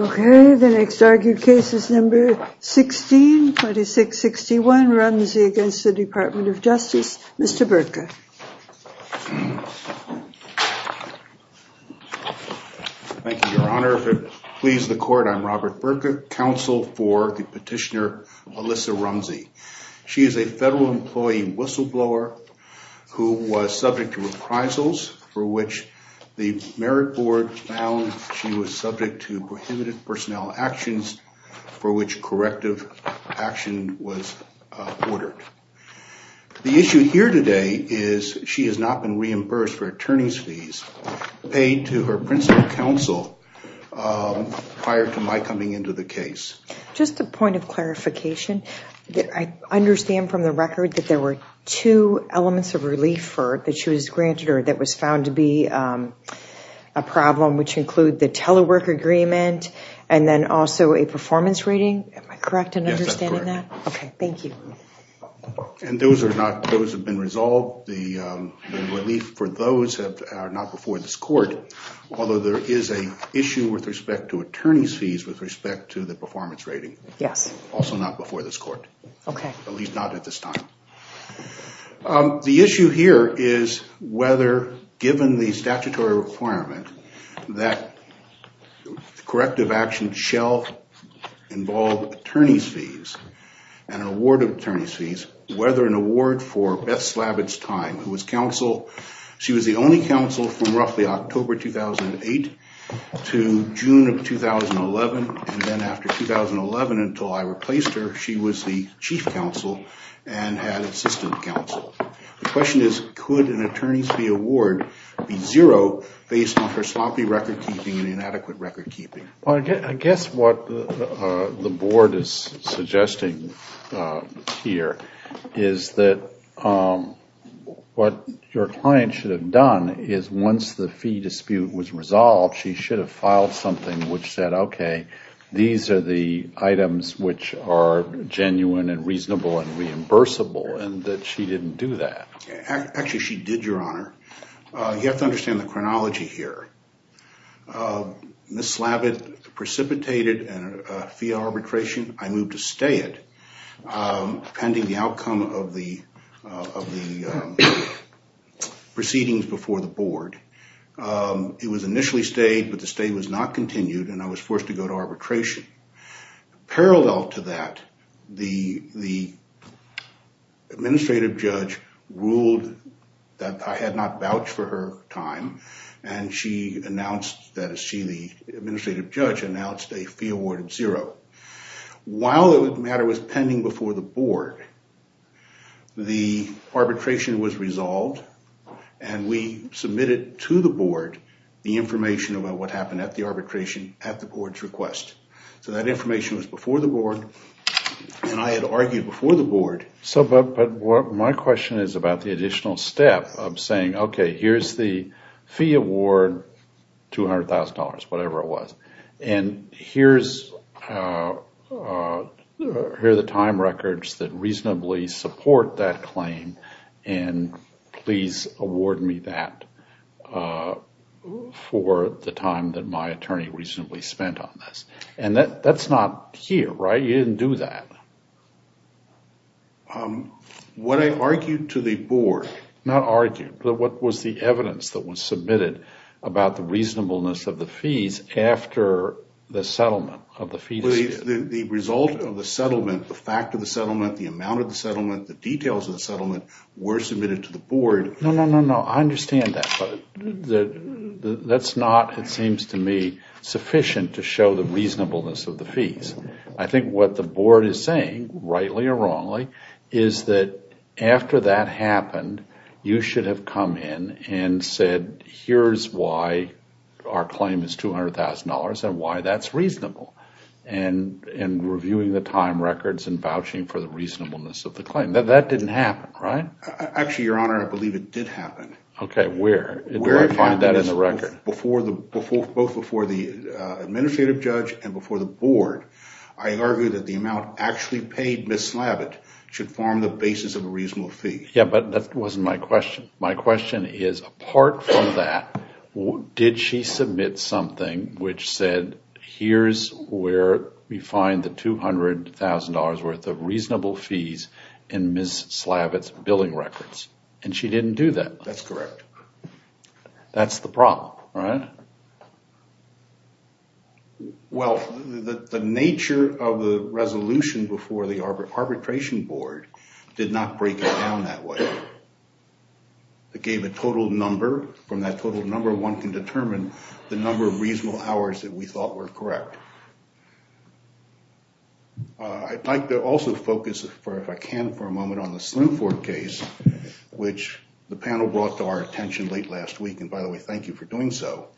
Okay, the next argued case is number 16, 2661, Rumsey against the Department of Justice. Mr. Burka. Thank you, Your Honor. If it pleases the court, I'm Robert Burka, counsel for the petitioner Melissa Rumsey. She is a federal employee whistleblower who was subject to reprisals for which the Merit Board found she was subject to prohibited personnel actions for which corrective action was ordered. The issue here today is she has not been reimbursed for attorney's fees paid to her principal counsel prior to my coming into the case. Just a point of clarification, I understand from the record that there were two elements of relief that she was granted or that was found to be a problem, which include the telework agreement and then also a performance rating. Am I correct in understanding that? Yes, that's correct. Okay, thank you. And those have been resolved. The relief for those are not before this court, although there is an issue with respect to attorney's fees with respect to the performance rating. Yes. Also not before this court. Okay. At least not at this time. The issue here is whether, given the statutory requirement that corrective action shall involve attorney's fees and award of attorney's fees, whether an award for Beth Slavitt's time, who was counsel, she was the only counsel from roughly October 2008 to June of 2011. And then after 2011 until I replaced her, she was the chief counsel and had assistant counsel. The question is, could an attorney's fee award be zero based on her sloppy record keeping and inadequate record keeping? I guess what the board is suggesting here is that what your client should have done is once the fee dispute was resolved, she should have filed something which said, okay, these are the items which are genuine and reasonable and reimbursable and that she didn't do that. Actually, she did, Your Honor. You have to understand the chronology here. Ms. Slavitt precipitated a fee arbitration. I moved to stay it pending the outcome of the proceedings before the board. It was initially stayed, but the stay was not continued, and I was forced to go to arbitration. Parallel to that, the administrative judge ruled that I had not vouched for her time, and she announced that she, the administrative judge, announced a fee award of zero. While the matter was pending before the board, the arbitration was resolved, and we submitted to the board the information about what happened at the arbitration at the board's request. So that information was before the board, and I had argued before the board. My question is about the additional step of saying, okay, here's the fee award, $200,000, whatever it was, and here are the time records that reasonably support that claim, and please award me that for the time that my attorney reasonably spent on this. And that's not here, right? You didn't do that. What I argued to the board. Not argued, but what was the evidence that was submitted about the reasonableness of the fees after the settlement of the fees? The result of the settlement, the fact of the settlement, the amount of the settlement, the details of the settlement were submitted to the board. I understand that, but that's not, it seems to me, sufficient to show the reasonableness of the fees. I think what the board is saying, rightly or wrongly, is that after that happened, you should have come in and said, here's why our claim is $200,000 and why that's reasonable, and reviewing the time records and vouching for the reasonableness of the claim. That didn't happen, right? Actually, Your Honor, I believe it did happen. Okay, where? Where do I find that in the record? Both before the administrative judge and before the board, I argue that the amount actually paid Ms. Slavitt should form the basis of a reasonable fee. Yeah, but that wasn't my question. My question is, apart from that, did she submit something which said, here's where we find the $200,000 worth of reasonable fees in Ms. Slavitt's billing records? And she didn't do that? That's correct. That's the problem, right? Well, the nature of the resolution before the arbitration board did not break it down that way. It gave a total number. From that total number, one can determine the number of reasonable hours that we thought were correct. I'd like to also focus, if I can for a moment, on the Slimford case, which the panel brought to our attention late last week. And by the way, thank you for doing so.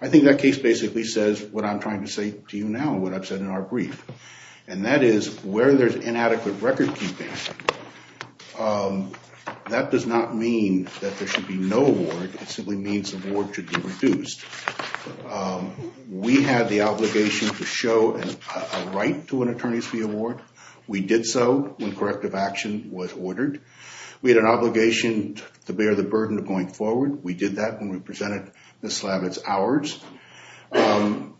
I think that case basically says what I'm trying to say to you now, what I've said in our brief. And that is, where there's inadequate record keeping, that does not mean that there should be no award. It simply means the award should be reduced. We had the obligation to show a right to an attorney's fee award. We did so when corrective action was ordered. We had an obligation to bear the burden of going forward. We did that when we presented Ms. Slavitt's hours. And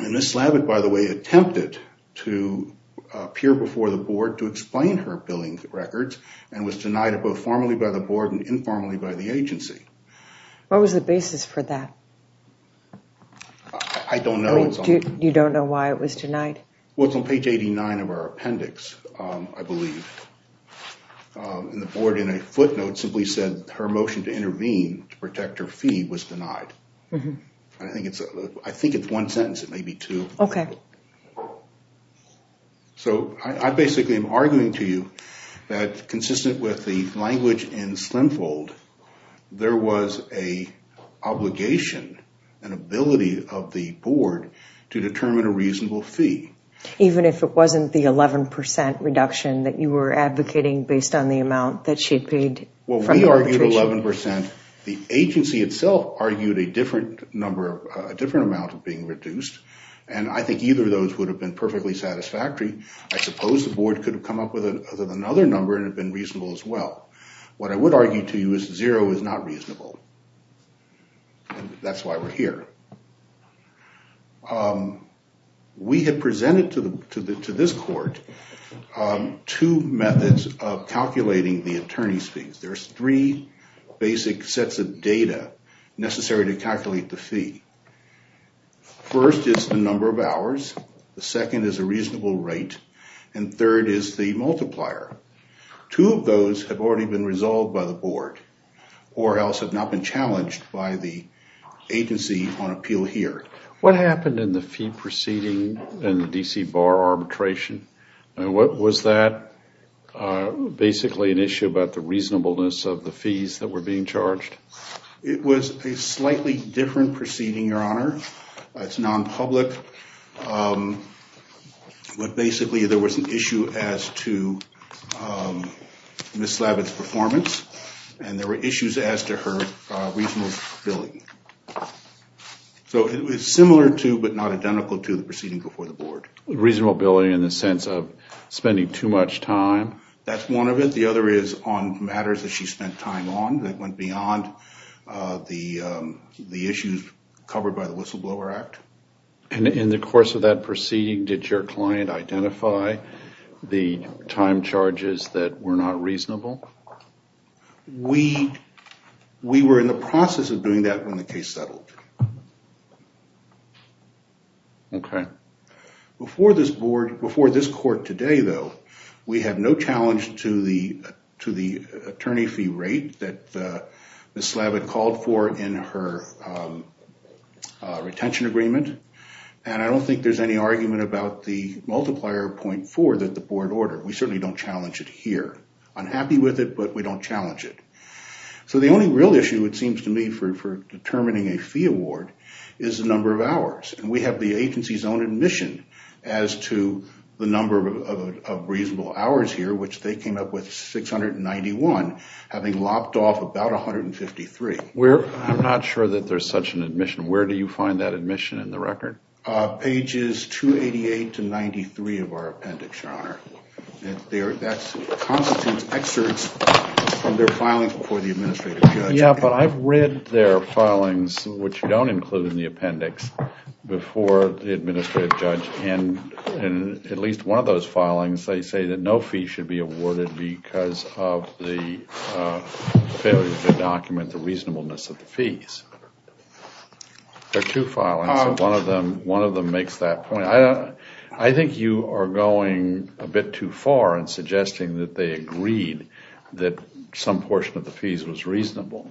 Ms. Slavitt, by the way, attempted to appear before the board to explain her billing records and was denied both formally by the board and informally by the agency. What was the basis for that? I don't know. You don't know why it was denied? Well, it's on page 89 of our appendix, I believe. And the board, in a footnote, simply said her motion to intervene to protect her fee was denied. I think it's one sentence. It may be two. Okay. So I basically am arguing to you that, consistent with the language in Slimfold, there was an obligation, an ability of the board to determine a reasonable fee. Even if it wasn't the 11% reduction that you were advocating based on the amount that she had paid? Well, we argued 11%. The agency itself argued a different amount of being reduced. And I think either of those would have been perfectly satisfactory. I suppose the board could have come up with another number and it would have been reasonable as well. What I would argue to you is zero is not reasonable. That's why we're here. We had presented to this court two methods of calculating the attorney's fees. There's three basic sets of data necessary to calculate the fee. First is the number of hours. The second is a reasonable rate. And third is the multiplier. Two of those have already been resolved by the board or else have not been challenged by the agency on appeal here. What happened in the fee proceeding in the D.C. Bar arbitration? And was that basically an issue about the reasonableness of the fees that were being charged? It was a slightly different proceeding, Your Honor. It's non-public. But basically there was an issue as to Ms. Slavitt's performance. And there were issues as to her reasonability. So it was similar to but not identical to the proceeding before the board. Reasonability in the sense of spending too much time? That's one of it. The other is on matters that she spent time on that went beyond the issues covered by the Whistleblower Act. And in the course of that proceeding, did your client identify the time charges that were not reasonable? We were in the process of doing that when the case settled. Okay. Before this court today, though, we have no challenge to the attorney fee rate that Ms. Slavitt called for in her retention agreement. And I don't think there's any argument about the multiplier 0.4 that the board ordered. We certainly don't challenge it here. I'm happy with it, but we don't challenge it. So the only real issue, it seems to me, for determining a fee award is the number of hours. And we have the agency's own admission as to the number of reasonable hours here, which they came up with 691, having lopped off about 153. I'm not sure that there's such an admission. Where do you find that admission in the record? Pages 288 to 93 of our appendix, Your Honor. That's constant excerpts from their filings before the administrative judge. Yeah, but I've read their filings, which you don't include in the appendix, before the administrative judge. And in at least one of those filings, they say that no fee should be awarded because of the failure to document the reasonableness of the fees. There are two filings, and one of them makes that point. I think you are going a bit too far in suggesting that they agreed that some portion of the fees was reasonable.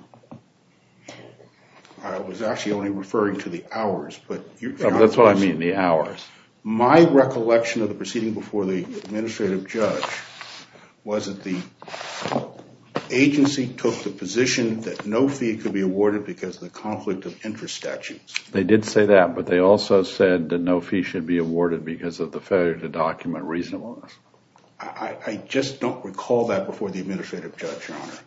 I was actually only referring to the hours. That's what I mean, the hours. My recollection of the proceeding before the administrative judge was that the agency took the position that no fee could be awarded because of the conflict of interest statutes. They did say that, but they also said that no fee should be awarded because of the failure to document reasonableness. I just don't recall that before the administrative judge, Your Honor.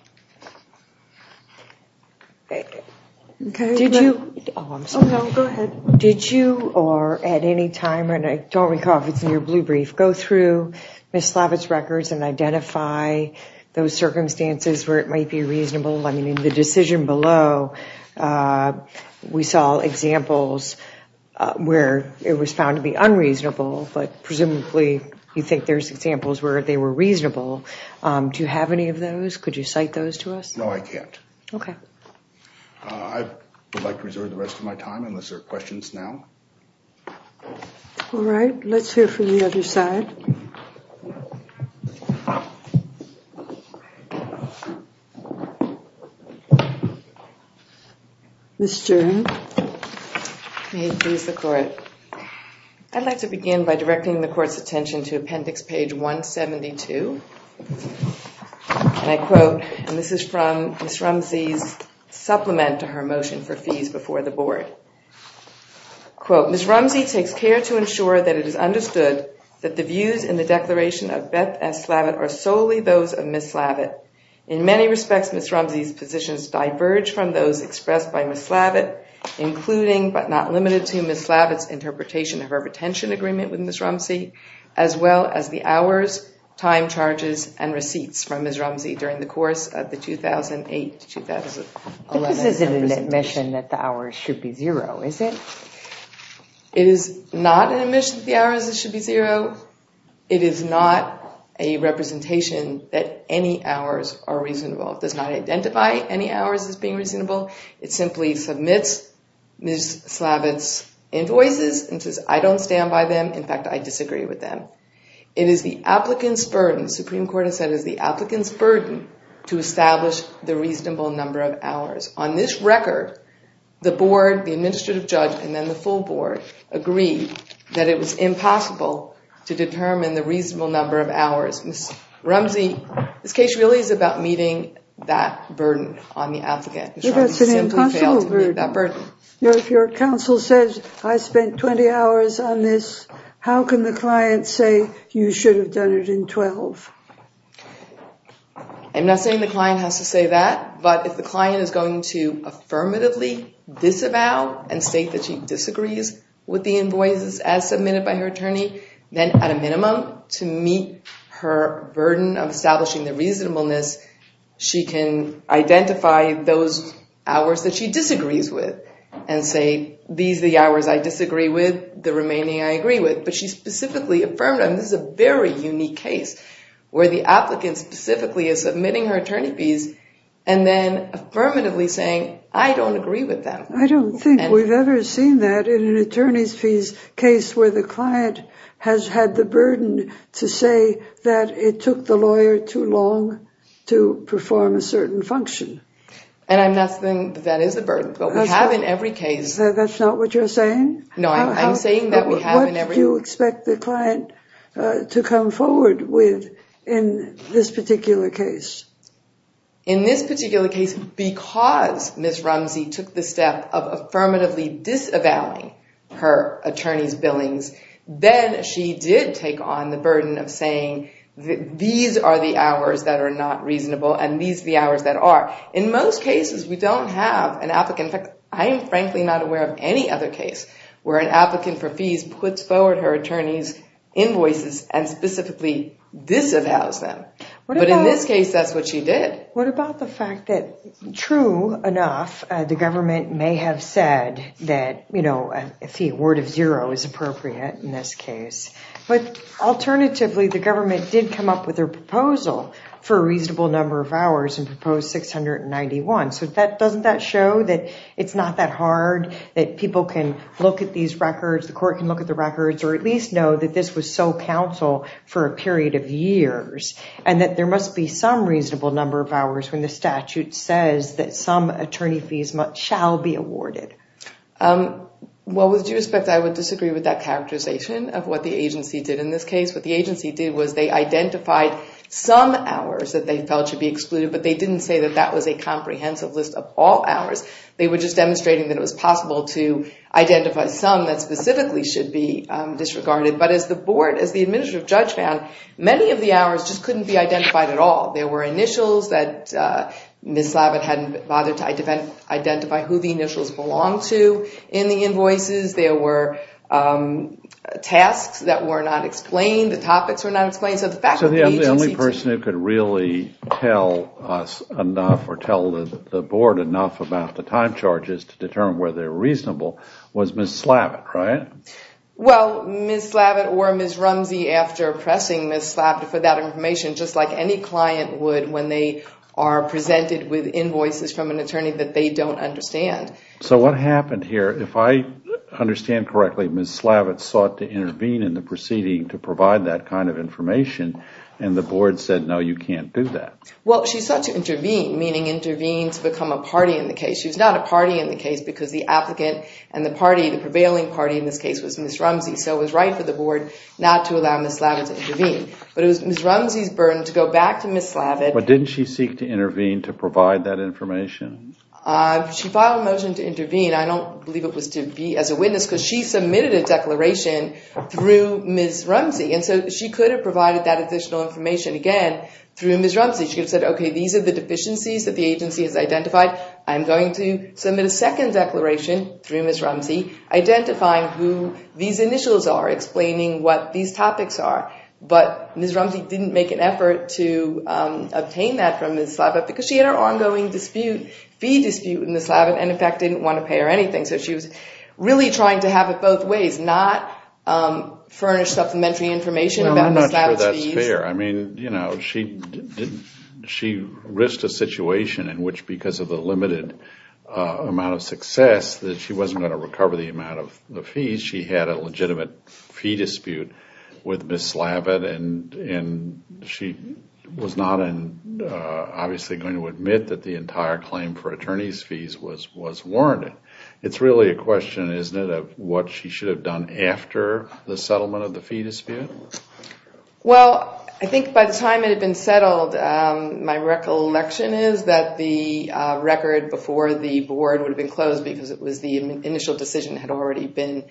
Did you—oh, I'm sorry. Oh, no, go ahead. Did you or at any time—and I don't recall if it's in your blue brief—go through Ms. Slavitt's records and identify those circumstances where it might be reasonable? I mean, in the decision below, we saw examples where it was found to be unreasonable, but presumably you think there's examples where they were reasonable. Do you have any of those? Could you cite those to us? No, I can't. Okay. I would like to reserve the rest of my time unless there are questions now. All right. Let's hear from the other side. Ms. Jern. May it please the Court. I'd like to begin by directing the Court's attention to Appendix Page 172. And I quote, and this is from Ms. Rumsey's supplement to her motion for fees before the Board. Quote, Ms. Rumsey takes care to ensure that it is understood that the views in the declaration of Beth S. Slavitt are solely those of Ms. Slavitt. In many respects, Ms. Rumsey's positions diverge from those expressed by Ms. Slavitt, including but not limited to Ms. Slavitt's interpretation of her retention agreement with Ms. Rumsey, as well as the hours, time charges, and receipts from Ms. Rumsey during the course of the 2008-2011 representation. This isn't an admission that the hours should be zero, is it? It is not an admission that the hours should be zero. It is not a representation that any hours are reasonable. It does not identify any hours as being reasonable. It simply submits Ms. Slavitt's invoices and says, I don't stand by them. In fact, I disagree with them. It is the applicant's burden, the Supreme Court has said, it is the applicant's burden to establish the reasonable number of hours. On this record, the board, the administrative judge, and then the full board agreed that it was impossible to determine the reasonable number of hours. Ms. Rumsey, this case really is about meeting that burden on the applicant. It is an impossible burden. If your counsel says, I spent 20 hours on this, how can the client say you should have done it in 12? I'm not saying the client has to say that, but if the client is going to affirmatively disavow and state that she disagrees with the invoices as submitted by her attorney, then at a minimum, to meet her burden of establishing the reasonableness, she can identify those hours that she disagrees with and say, these are the hours I disagree with, the remaining I agree with. This is a very unique case where the applicant specifically is submitting her attorney fees and then affirmatively saying, I don't agree with them. I don't think we've ever seen that in an attorney's fees case where the client has had the burden to say that it took the lawyer too long to perform a certain function. And I'm not saying that is a burden, but we have in every case. That's not what you're saying? No, I'm saying that we have in every case. What do you expect the client to come forward with in this particular case? In this particular case, because Ms. Rumsey took the step of affirmatively disavowing her attorney's billings, then she did take on the burden of saying, these are the hours that are not reasonable and these are the hours that are. In most cases, we don't have an applicant. In fact, I am frankly not aware of any other case where an applicant for fees puts forward her attorney's invoices and specifically disavows them. But in this case, that's what she did. What about the fact that, true enough, the government may have said that a fee award of zero is appropriate in this case. But alternatively, the government did come up with a proposal for a reasonable number of hours and proposed 691. So doesn't that show that it's not that hard, that people can look at these records, the court can look at the records, or at least know that this was so counsel for a period of years, and that there must be some reasonable number of hours when the statute says that some attorney fees shall be awarded? Well, with due respect, I would disagree with that characterization of what the agency did in this case. What the agency did was they identified some hours that they felt should be excluded, but they didn't say that that was a comprehensive list of all hours. They were just demonstrating that it was possible to identify some that specifically should be disregarded. But as the board, as the administrative judge found, many of the hours just couldn't be identified at all. There were initials that Ms. Slavitt hadn't bothered to identify who the initials belonged to in the invoices. There were tasks that were not explained, the topics were not explained. So the only person who could really tell us enough or tell the board enough about the time charges to determine whether they're reasonable was Ms. Slavitt, right? Well, Ms. Slavitt or Ms. Rumsey, after pressing Ms. Slavitt for that information, just like any client would when they are presented with invoices from an attorney that they don't understand. So what happened here, if I understand correctly, Ms. Slavitt sought to intervene in the proceeding to provide that kind of information, and the board said, no, you can't do that. Well, she sought to intervene, meaning intervene to become a party in the case. She was not a party in the case because the applicant and the party, the prevailing party in this case, was Ms. Rumsey. So it was right for the board not to allow Ms. Slavitt to intervene. But it was Ms. Rumsey's burden to go back to Ms. Slavitt. But didn't she seek to intervene to provide that information? She filed a motion to intervene. I don't believe it was to be as a witness because she submitted a declaration through Ms. Rumsey. And so she could have provided that additional information again through Ms. Rumsey. She could have said, okay, these are the deficiencies that the agency has identified. I'm going to submit a second declaration through Ms. Rumsey, identifying who these initials are, explaining what these topics are. But Ms. Rumsey didn't make an effort to obtain that from Ms. Slavitt because she had her ongoing dispute, fee dispute with Ms. Slavitt, and, in fact, didn't want to pay her anything. So she was really trying to have it both ways, not furnish supplementary information about Ms. Slavitt's fees. I mean, you know, she risked a situation in which, because of the limited amount of success, that she wasn't going to recover the amount of the fees. She had a legitimate fee dispute with Ms. Slavitt, and she was not obviously going to admit that the entire claim for attorney's fees was warranted. It's really a question, isn't it, of what she should have done after the settlement of the fee dispute? Well, I think by the time it had been settled, my recollection is that the record before the board would have been closed because it was the initial decision that had already been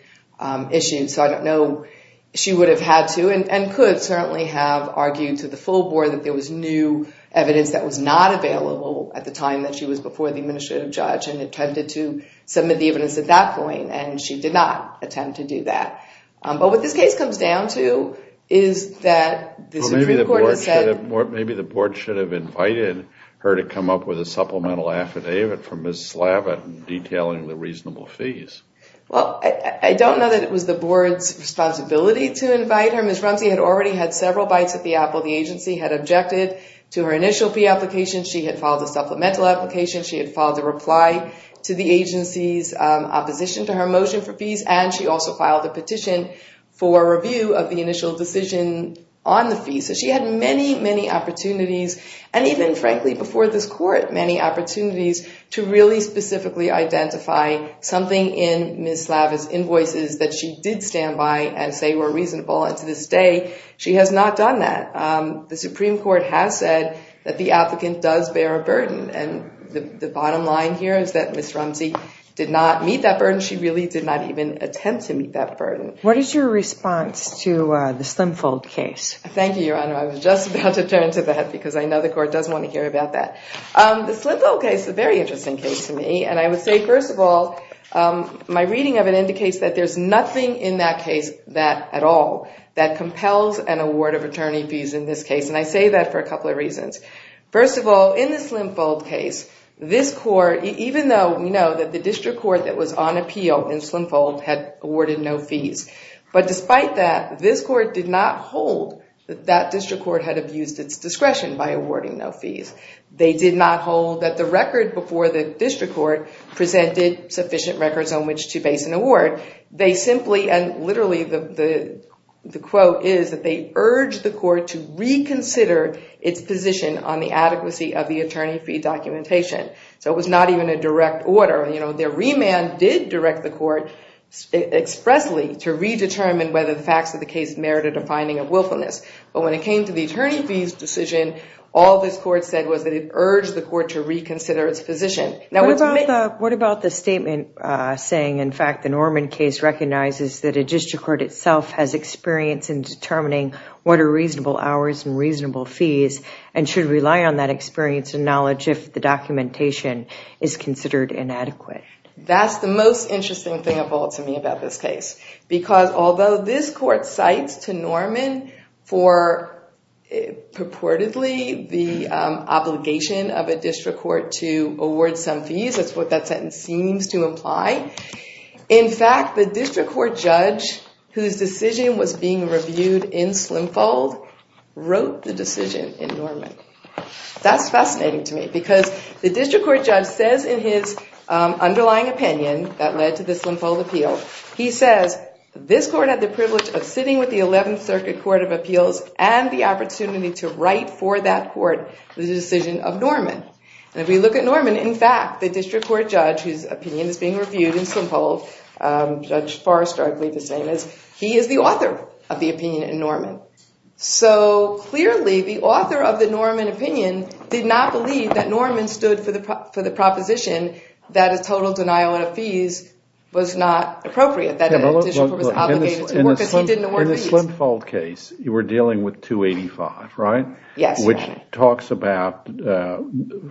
issued. So I don't know if she would have had to and could certainly have argued to the full board that there was new evidence that was not available at the time that she was before the administrative judge and attempted to submit the evidence at that point, and she did not attempt to do that. But what this case comes down to is that the Supreme Court has said... Maybe the board should have invited her to come up with a supplemental affidavit for Ms. Slavitt detailing the reasonable fees. Well, I don't know that it was the board's responsibility to invite her. Ms. Rumsey had already had several bites at the apple. The agency had objected to her initial fee application. She had filed a supplemental application. And she also filed a petition for review of the initial decision on the fee. So she had many, many opportunities, and even, frankly, before this court, many opportunities to really specifically identify something in Ms. Slavitt's invoices that she did stand by and say were reasonable. And to this day, she has not done that. The Supreme Court has said that the applicant does bear a burden. And the bottom line here is that Ms. Rumsey did not meet that burden. She really did not even attempt to meet that burden. What is your response to the Slimfold case? Thank you, Your Honor. I was just about to turn to that because I know the court does want to hear about that. The Slimfold case is a very interesting case to me. And I would say, first of all, my reading of it indicates that there's nothing in that case at all that compels an award of attorney fees in this case. And I say that for a couple of reasons. First of all, in the Slimfold case, this court, even though we know that the district court that was on appeal in Slimfold had awarded no fees, but despite that, this court did not hold that that district court had abused its discretion by awarding no fees. They did not hold that the record before the district court presented sufficient records on which to base an award. They simply, and literally the quote is that they urged the court to reconsider its position on the adequacy of the attorney fee documentation. So it was not even a direct order. Their remand did direct the court expressly to redetermine whether the facts of the case merited a finding of willfulness. But when it came to the attorney fees decision, all this court said was that it urged the court to reconsider its position. What about the statement saying, in fact, the Norman case recognizes that a district court itself has experience in determining what are reasonable hours and reasonable fees and should rely on that experience and knowledge if the documentation is considered inadequate. That's the most interesting thing of all to me about this case. Because although this court cites to Norman for purportedly the obligation of a district court to award some fees, that's what that sentence seems to imply. In fact, the district court judge whose decision was being reviewed in Slimfold wrote the decision in Norman. That's fascinating to me because the district court judge says in his underlying opinion that led to the Slimfold appeal, he says this court had the privilege of sitting with the 11th Circuit Court of Appeals and the opportunity to write for that court the decision of Norman. And if we look at Norman, in fact, the district court judge whose opinion is being reviewed in Slimfold, Judge Forrester I believe his name is, he is the author of the opinion in Norman. So clearly the author of the Norman opinion did not believe that Norman stood for the proposition that a total denial of fees was not appropriate. That a district court was obligated to work because he didn't award fees. In the Slimfold case, you were dealing with 285, right? Yes. Which talks about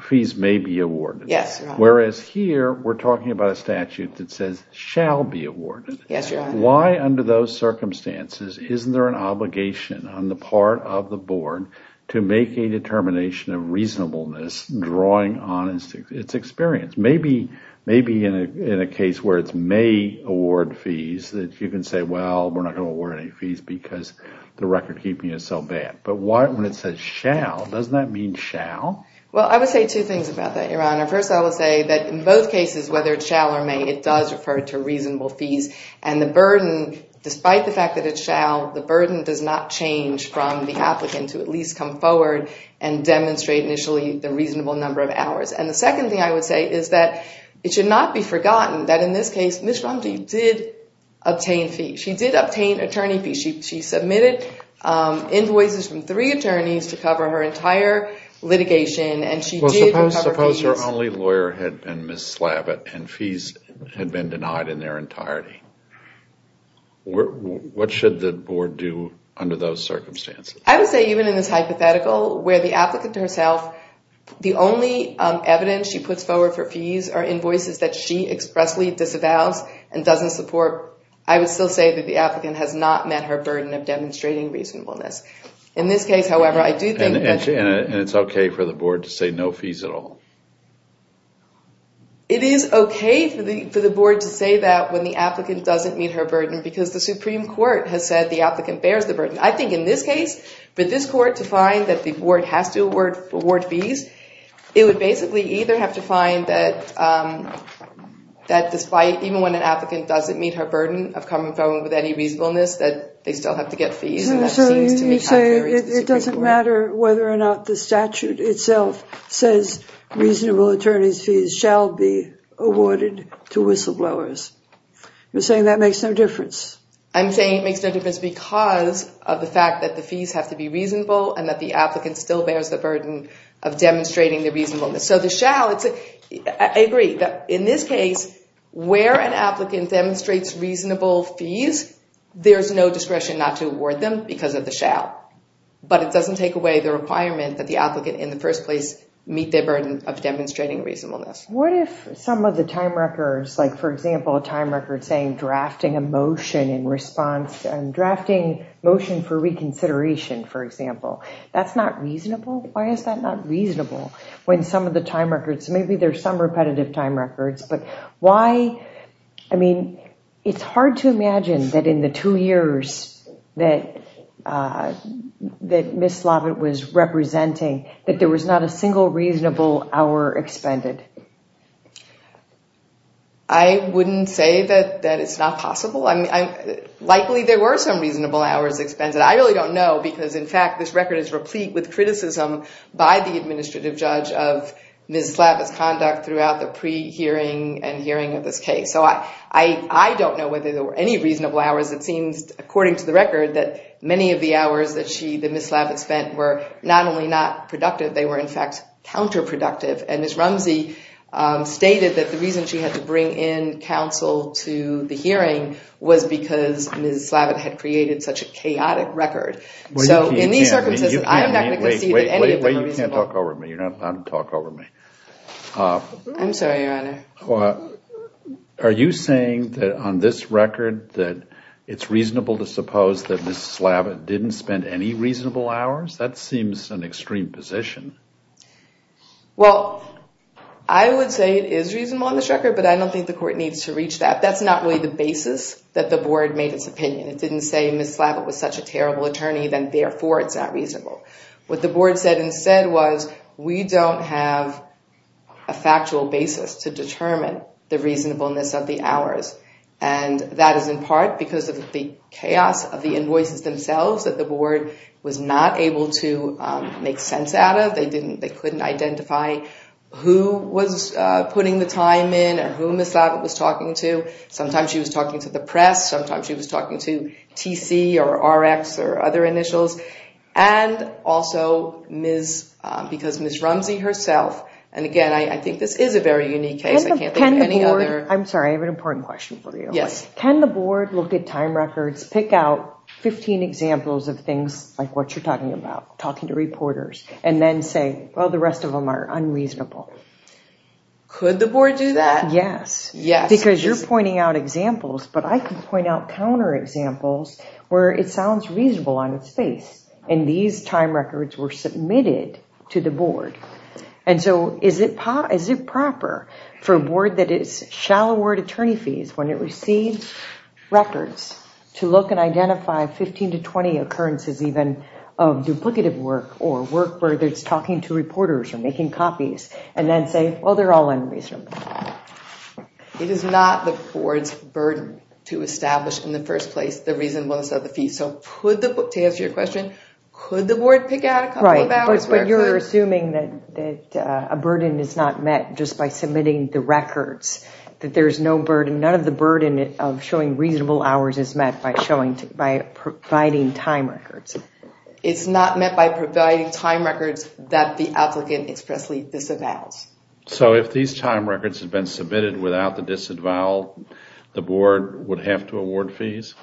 fees may be awarded. Yes. Whereas here, we're talking about a statute that says shall be awarded. Yes, Your Honor. But why under those circumstances isn't there an obligation on the part of the board to make a determination of reasonableness drawing on its experience? Maybe in a case where it's may award fees that you can say, well, we're not going to award any fees because the record keeping is so bad. But when it says shall, doesn't that mean shall? Well, I would say two things about that, Your Honor. First, I would say that in both cases, whether it's shall or may, it does refer to reasonable fees. And the burden, despite the fact that it's shall, the burden does not change from the applicant to at least come forward and demonstrate initially the reasonable number of hours. And the second thing I would say is that it should not be forgotten that in this case, Ms. Rumsey did obtain fees. She did obtain attorney fees. She submitted invoices from three attorneys to cover her entire litigation, and she did cover fees. If your only lawyer had been Ms. Slavitt and fees had been denied in their entirety, what should the board do under those circumstances? I would say even in this hypothetical, where the applicant herself, the only evidence she puts forward for fees are invoices that she expressly disavows and doesn't support, I would still say that the applicant has not met her burden of demonstrating reasonableness. In this case, however, I do think that... And it's okay for the board to say no fees at all? It is okay for the board to say that when the applicant doesn't meet her burden because the Supreme Court has said the applicant bears the burden. I think in this case, for this court to find that the board has to award fees, it would basically either have to find that despite, even when an applicant doesn't meet her burden of coming forward with any reasonableness, that they still have to get fees. So you say it doesn't matter whether or not the statute itself says reasonable attorney's fees shall be awarded to whistleblowers. You're saying that makes no difference? I'm saying it makes no difference because of the fact that the fees have to be reasonable and that the applicant still bears the burden of demonstrating the reasonableness. So the shall, I agree that in this case, where an applicant demonstrates reasonable fees, there's no discretion not to award them because of the shall. But it doesn't take away the requirement that the applicant in the first place meet their burden of demonstrating reasonableness. What if some of the time records, like for example, a time record saying drafting a motion in response and drafting motion for reconsideration, for example, that's not reasonable? Why is that not reasonable when some of the time records, maybe there's some repetitive time records, but why? I mean, it's hard to imagine that in the two years that Ms. Slavitt was representing, that there was not a single reasonable hour expended. I wouldn't say that it's not possible. Likely there were some reasonable hours expended. I really don't know because, in fact, this record is replete with criticism by the administrative judge of Ms. Slavitt's conduct throughout the pre-hearing and hearing of this case. So I don't know whether there were any reasonable hours. It seems, according to the record, that many of the hours that Ms. Slavitt spent were not only not productive, they were in fact counterproductive. And Ms. Rumsey stated that the reason she had to bring in counsel to the hearing was because Ms. Slavitt had created such a chaotic record. So in these circumstances, I'm not going to concede that any of them were reasonable. Wait, wait, wait, you can't talk over me. You're not allowed to talk over me. I'm sorry, Your Honor. Are you saying that on this record that it's reasonable to suppose that Ms. Slavitt didn't spend any reasonable hours? That seems an extreme position. Well, I would say it is reasonable on this record, but I don't think the court needs to reach that. That's not really the basis that the board made its opinion. It didn't say Ms. Slavitt was such a terrible attorney, then therefore it's not reasonable. What the board said instead was we don't have a factual basis to determine the reasonableness of the hours. And that is in part because of the chaos of the invoices themselves that the board was not able to make sense out of. They couldn't identify who was putting the time in or who Ms. Slavitt was talking to. Sometimes she was talking to the press. Sometimes she was talking to TC or RX or other initials. And also because Ms. Rumsey herself, and again, I think this is a very unique case. I can't think of any other. I'm sorry. I have an important question for you. Yes. Can the board look at time records, pick out 15 examples of things like what you're talking about, talking to reporters, and then say, well, the rest of them are unreasonable? Could the board do that? Yes. Because you're pointing out examples, but I can point out counterexamples where it sounds reasonable on its face. And these time records were submitted to the board. And so is it proper for a board that is shall award attorney fees when it receives records to look and identify 15 to 20 occurrences even of duplicative work or work where it's making copies and then say, well, they're all unreasonable? It is not the board's burden to establish in the first place the reasonableness of the fees. So to answer your question, could the board pick out a couple of hours where it could? Right. But you're assuming that a burden is not met just by submitting the records, that there is no burden. None of the burden of showing reasonable hours is met by providing time records. It's not met by providing time records that the applicant expressly disavows. So if these time records had been submitted without the disavowal, the board would have to award fees?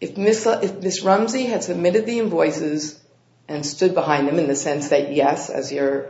If Ms. Rumsey had submitted the invoices and stood behind them in the sense that yes, as your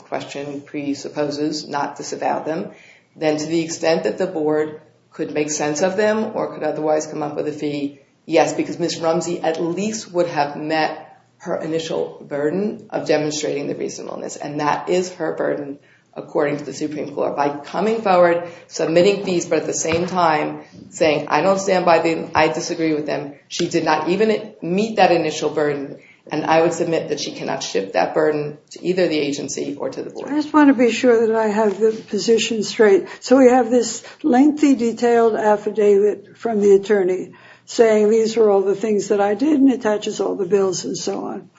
question presupposes, not disavow them, then to the extent that the board could make up for the fee, yes. Because Ms. Rumsey at least would have met her initial burden of demonstrating the reasonableness. And that is her burden according to the Supreme Court. By coming forward, submitting fees, but at the same time saying, I don't stand by them, I disagree with them, she did not even meet that initial burden. And I would submit that she cannot shift that burden to either the agency or to the board. I just want to be sure that I have the position straight. So we have this lengthy, detailed affidavit from the attorney saying these are all the things that I did, and it touches all the bills and so on.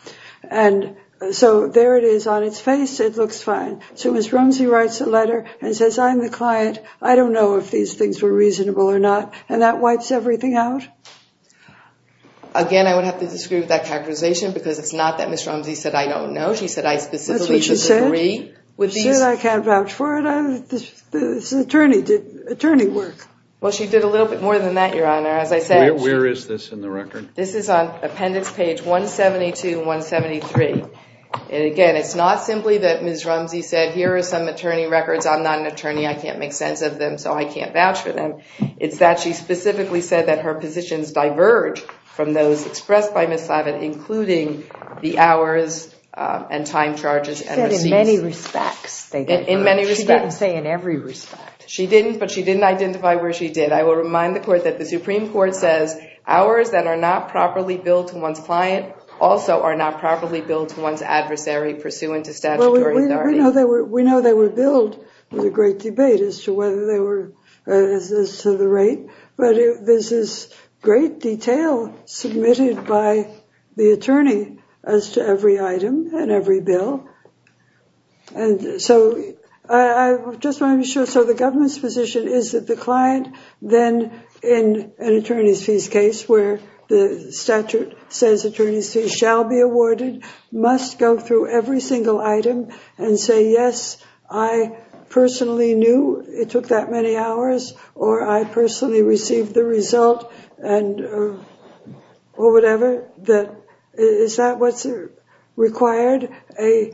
And so there it is on its face. It looks fine. So Ms. Rumsey writes a letter and says, I'm the client. I don't know if these things were reasonable or not. And that wipes everything out? Again, I would have to disagree with that characterization because it's not that Ms. Rumsey said, I don't know. She said, I specifically disagree. She said, I can't vouch for it. This attorney did attorney work. Well, she did a little bit more than that, Your Honor. Where is this in the record? This is on appendix page 172, 173. And again, it's not simply that Ms. Rumsey said, here are some attorney records. I'm not an attorney. I can't make sense of them, so I can't vouch for them. It's that she specifically said that her positions diverge from those expressed by Ms. She didn't say in every respect. She didn't, but she didn't identify where she did. I will remind the court that the Supreme Court says, ours that are not properly billed to one's client also are not properly billed to one's adversary pursuant to statutory authority. We know they were billed. It was a great debate as to whether they were as to the rate. But this is great detail submitted by the attorney as to every item and every bill. And so I just want to be sure. So the government's position is that the client then, in an attorney's fees case where the statute says attorney's fees shall be awarded, must go through every single item and say, yes, I personally knew it took that many hours, or I personally received the result, or whatever, is that what's required, a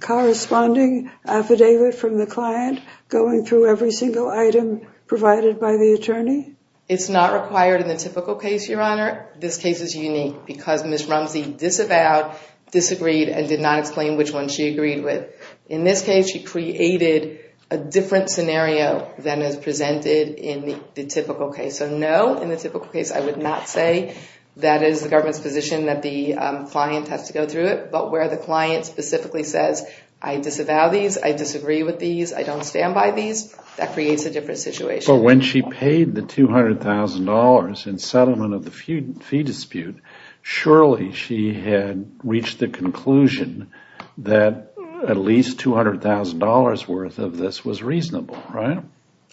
corresponding affidavit from the client going through every single item provided by the attorney? It's not required in the typical case, Your Honor. This case is unique because Ms. Rumsey disavowed, disagreed, and did not explain which one she agreed with. In this case, she created a different scenario than is presented in the typical case. So no, in the typical case, I would not say that is the government's position that the client has to go through it. But where the client specifically says, I disavow these, I disagree with these, I don't stand by these, that creates a different situation. But when she paid the $200,000 in settlement of the fee dispute, surely she had reached the conclusion that at least $200,000 worth of this was reasonable, right?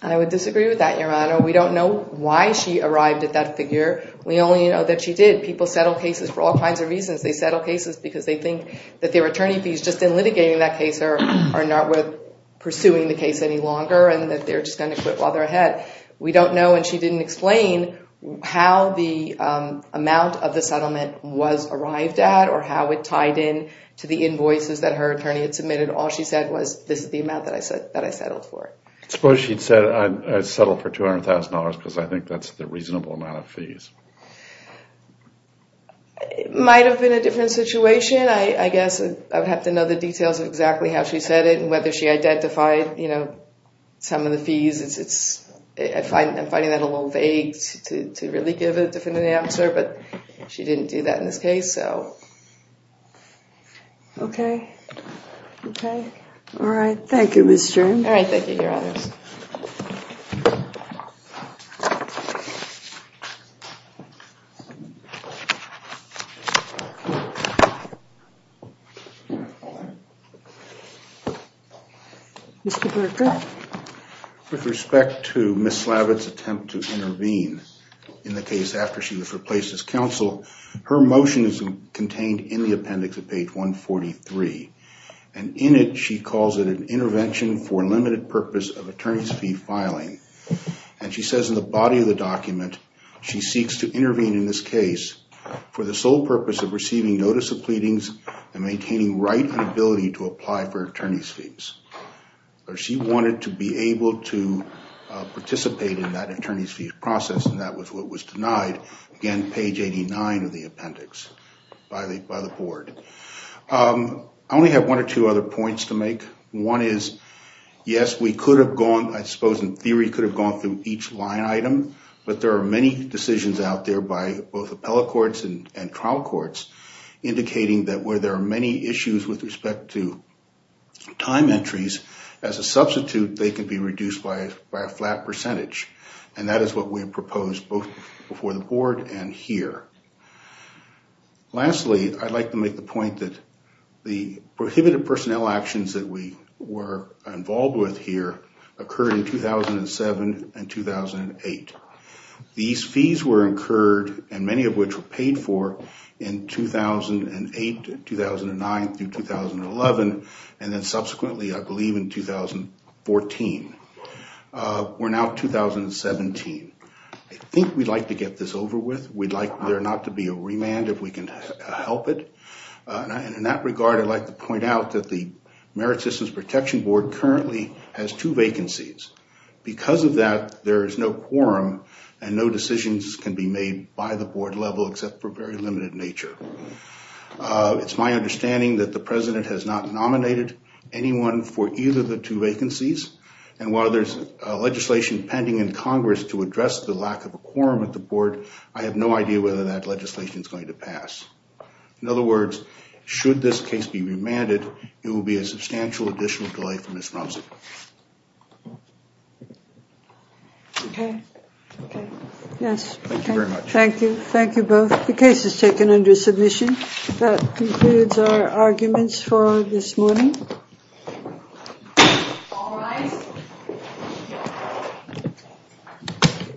I would disagree with that, Your Honor. We don't know why she arrived at that figure. We only know that she did. People settle cases for all kinds of reasons. They settle cases because they think that their attorney fees just in litigating that case are not worth pursuing the case any longer and that they're just going to quit while they're ahead. But we don't know and she didn't explain how the amount of the settlement was arrived at or how it tied in to the invoices that her attorney had submitted. All she said was, this is the amount that I settled for. Suppose she'd said, I settled for $200,000 because I think that's the reasonable amount of fees. It might have been a different situation. I guess I would have to know the details of exactly how she said it and whether she identified some of the fees. I'm finding that a little vague to really give a definitive answer, but she didn't do that in this case. Okay. All right. Thank you, Ms. Stern. All right. Thank you, Your Honor. Mr. Berger. With respect to Ms. Slavitt's attempt to intervene in the case after she was replaced as counsel, her motion is contained in the appendix at page 143, and in it she calls it an intervention for limited purpose of attorney's fee filing. And she says in the body of the document she seeks to intervene in this case for the sole purpose of receiving notice of pleadings and maintaining right and ability to apply for attorney's fees. She wanted to be able to participate in that attorney's fee process, and that was what was denied, again, page 89 of the appendix by the board. I only have one or two other points to make. One is, yes, we could have gone, I suppose in theory, could have gone through each line item, but there are many decisions out there by both appellate courts and trial courts indicating that where there are many issues with respect to time entries, as a substitute they can be reduced by a flat percentage, and that is what we propose both before the board and here. Lastly, I'd like to make the point that the prohibited personnel actions that we were involved with here occurred in 2007 and 2008. These fees were incurred, and many of which were paid for in 2008, 2009 through 2011, and then subsequently I believe in 2014. We're now at 2017. I think we'd like to get this over with. We'd like there not to be a remand if we can help it. In that regard, I'd like to point out that the Merit Systems Protection Board currently has two vacancies. Because of that, there is no quorum, and no decisions can be made by the board level except for very limited nature. It's my understanding that the president has not nominated anyone for either of the two vacancies, and while there's legislation pending in Congress to address the lack of a quorum at the board, I have no idea whether that legislation is going to pass. In other words, should this case be remanded, it will be a substantial additional delay for Ms. Rumsey. Okay. Yes. Thank you very much. Thank you. Thank you both. The case is taken under submission. That concludes our arguments for this morning.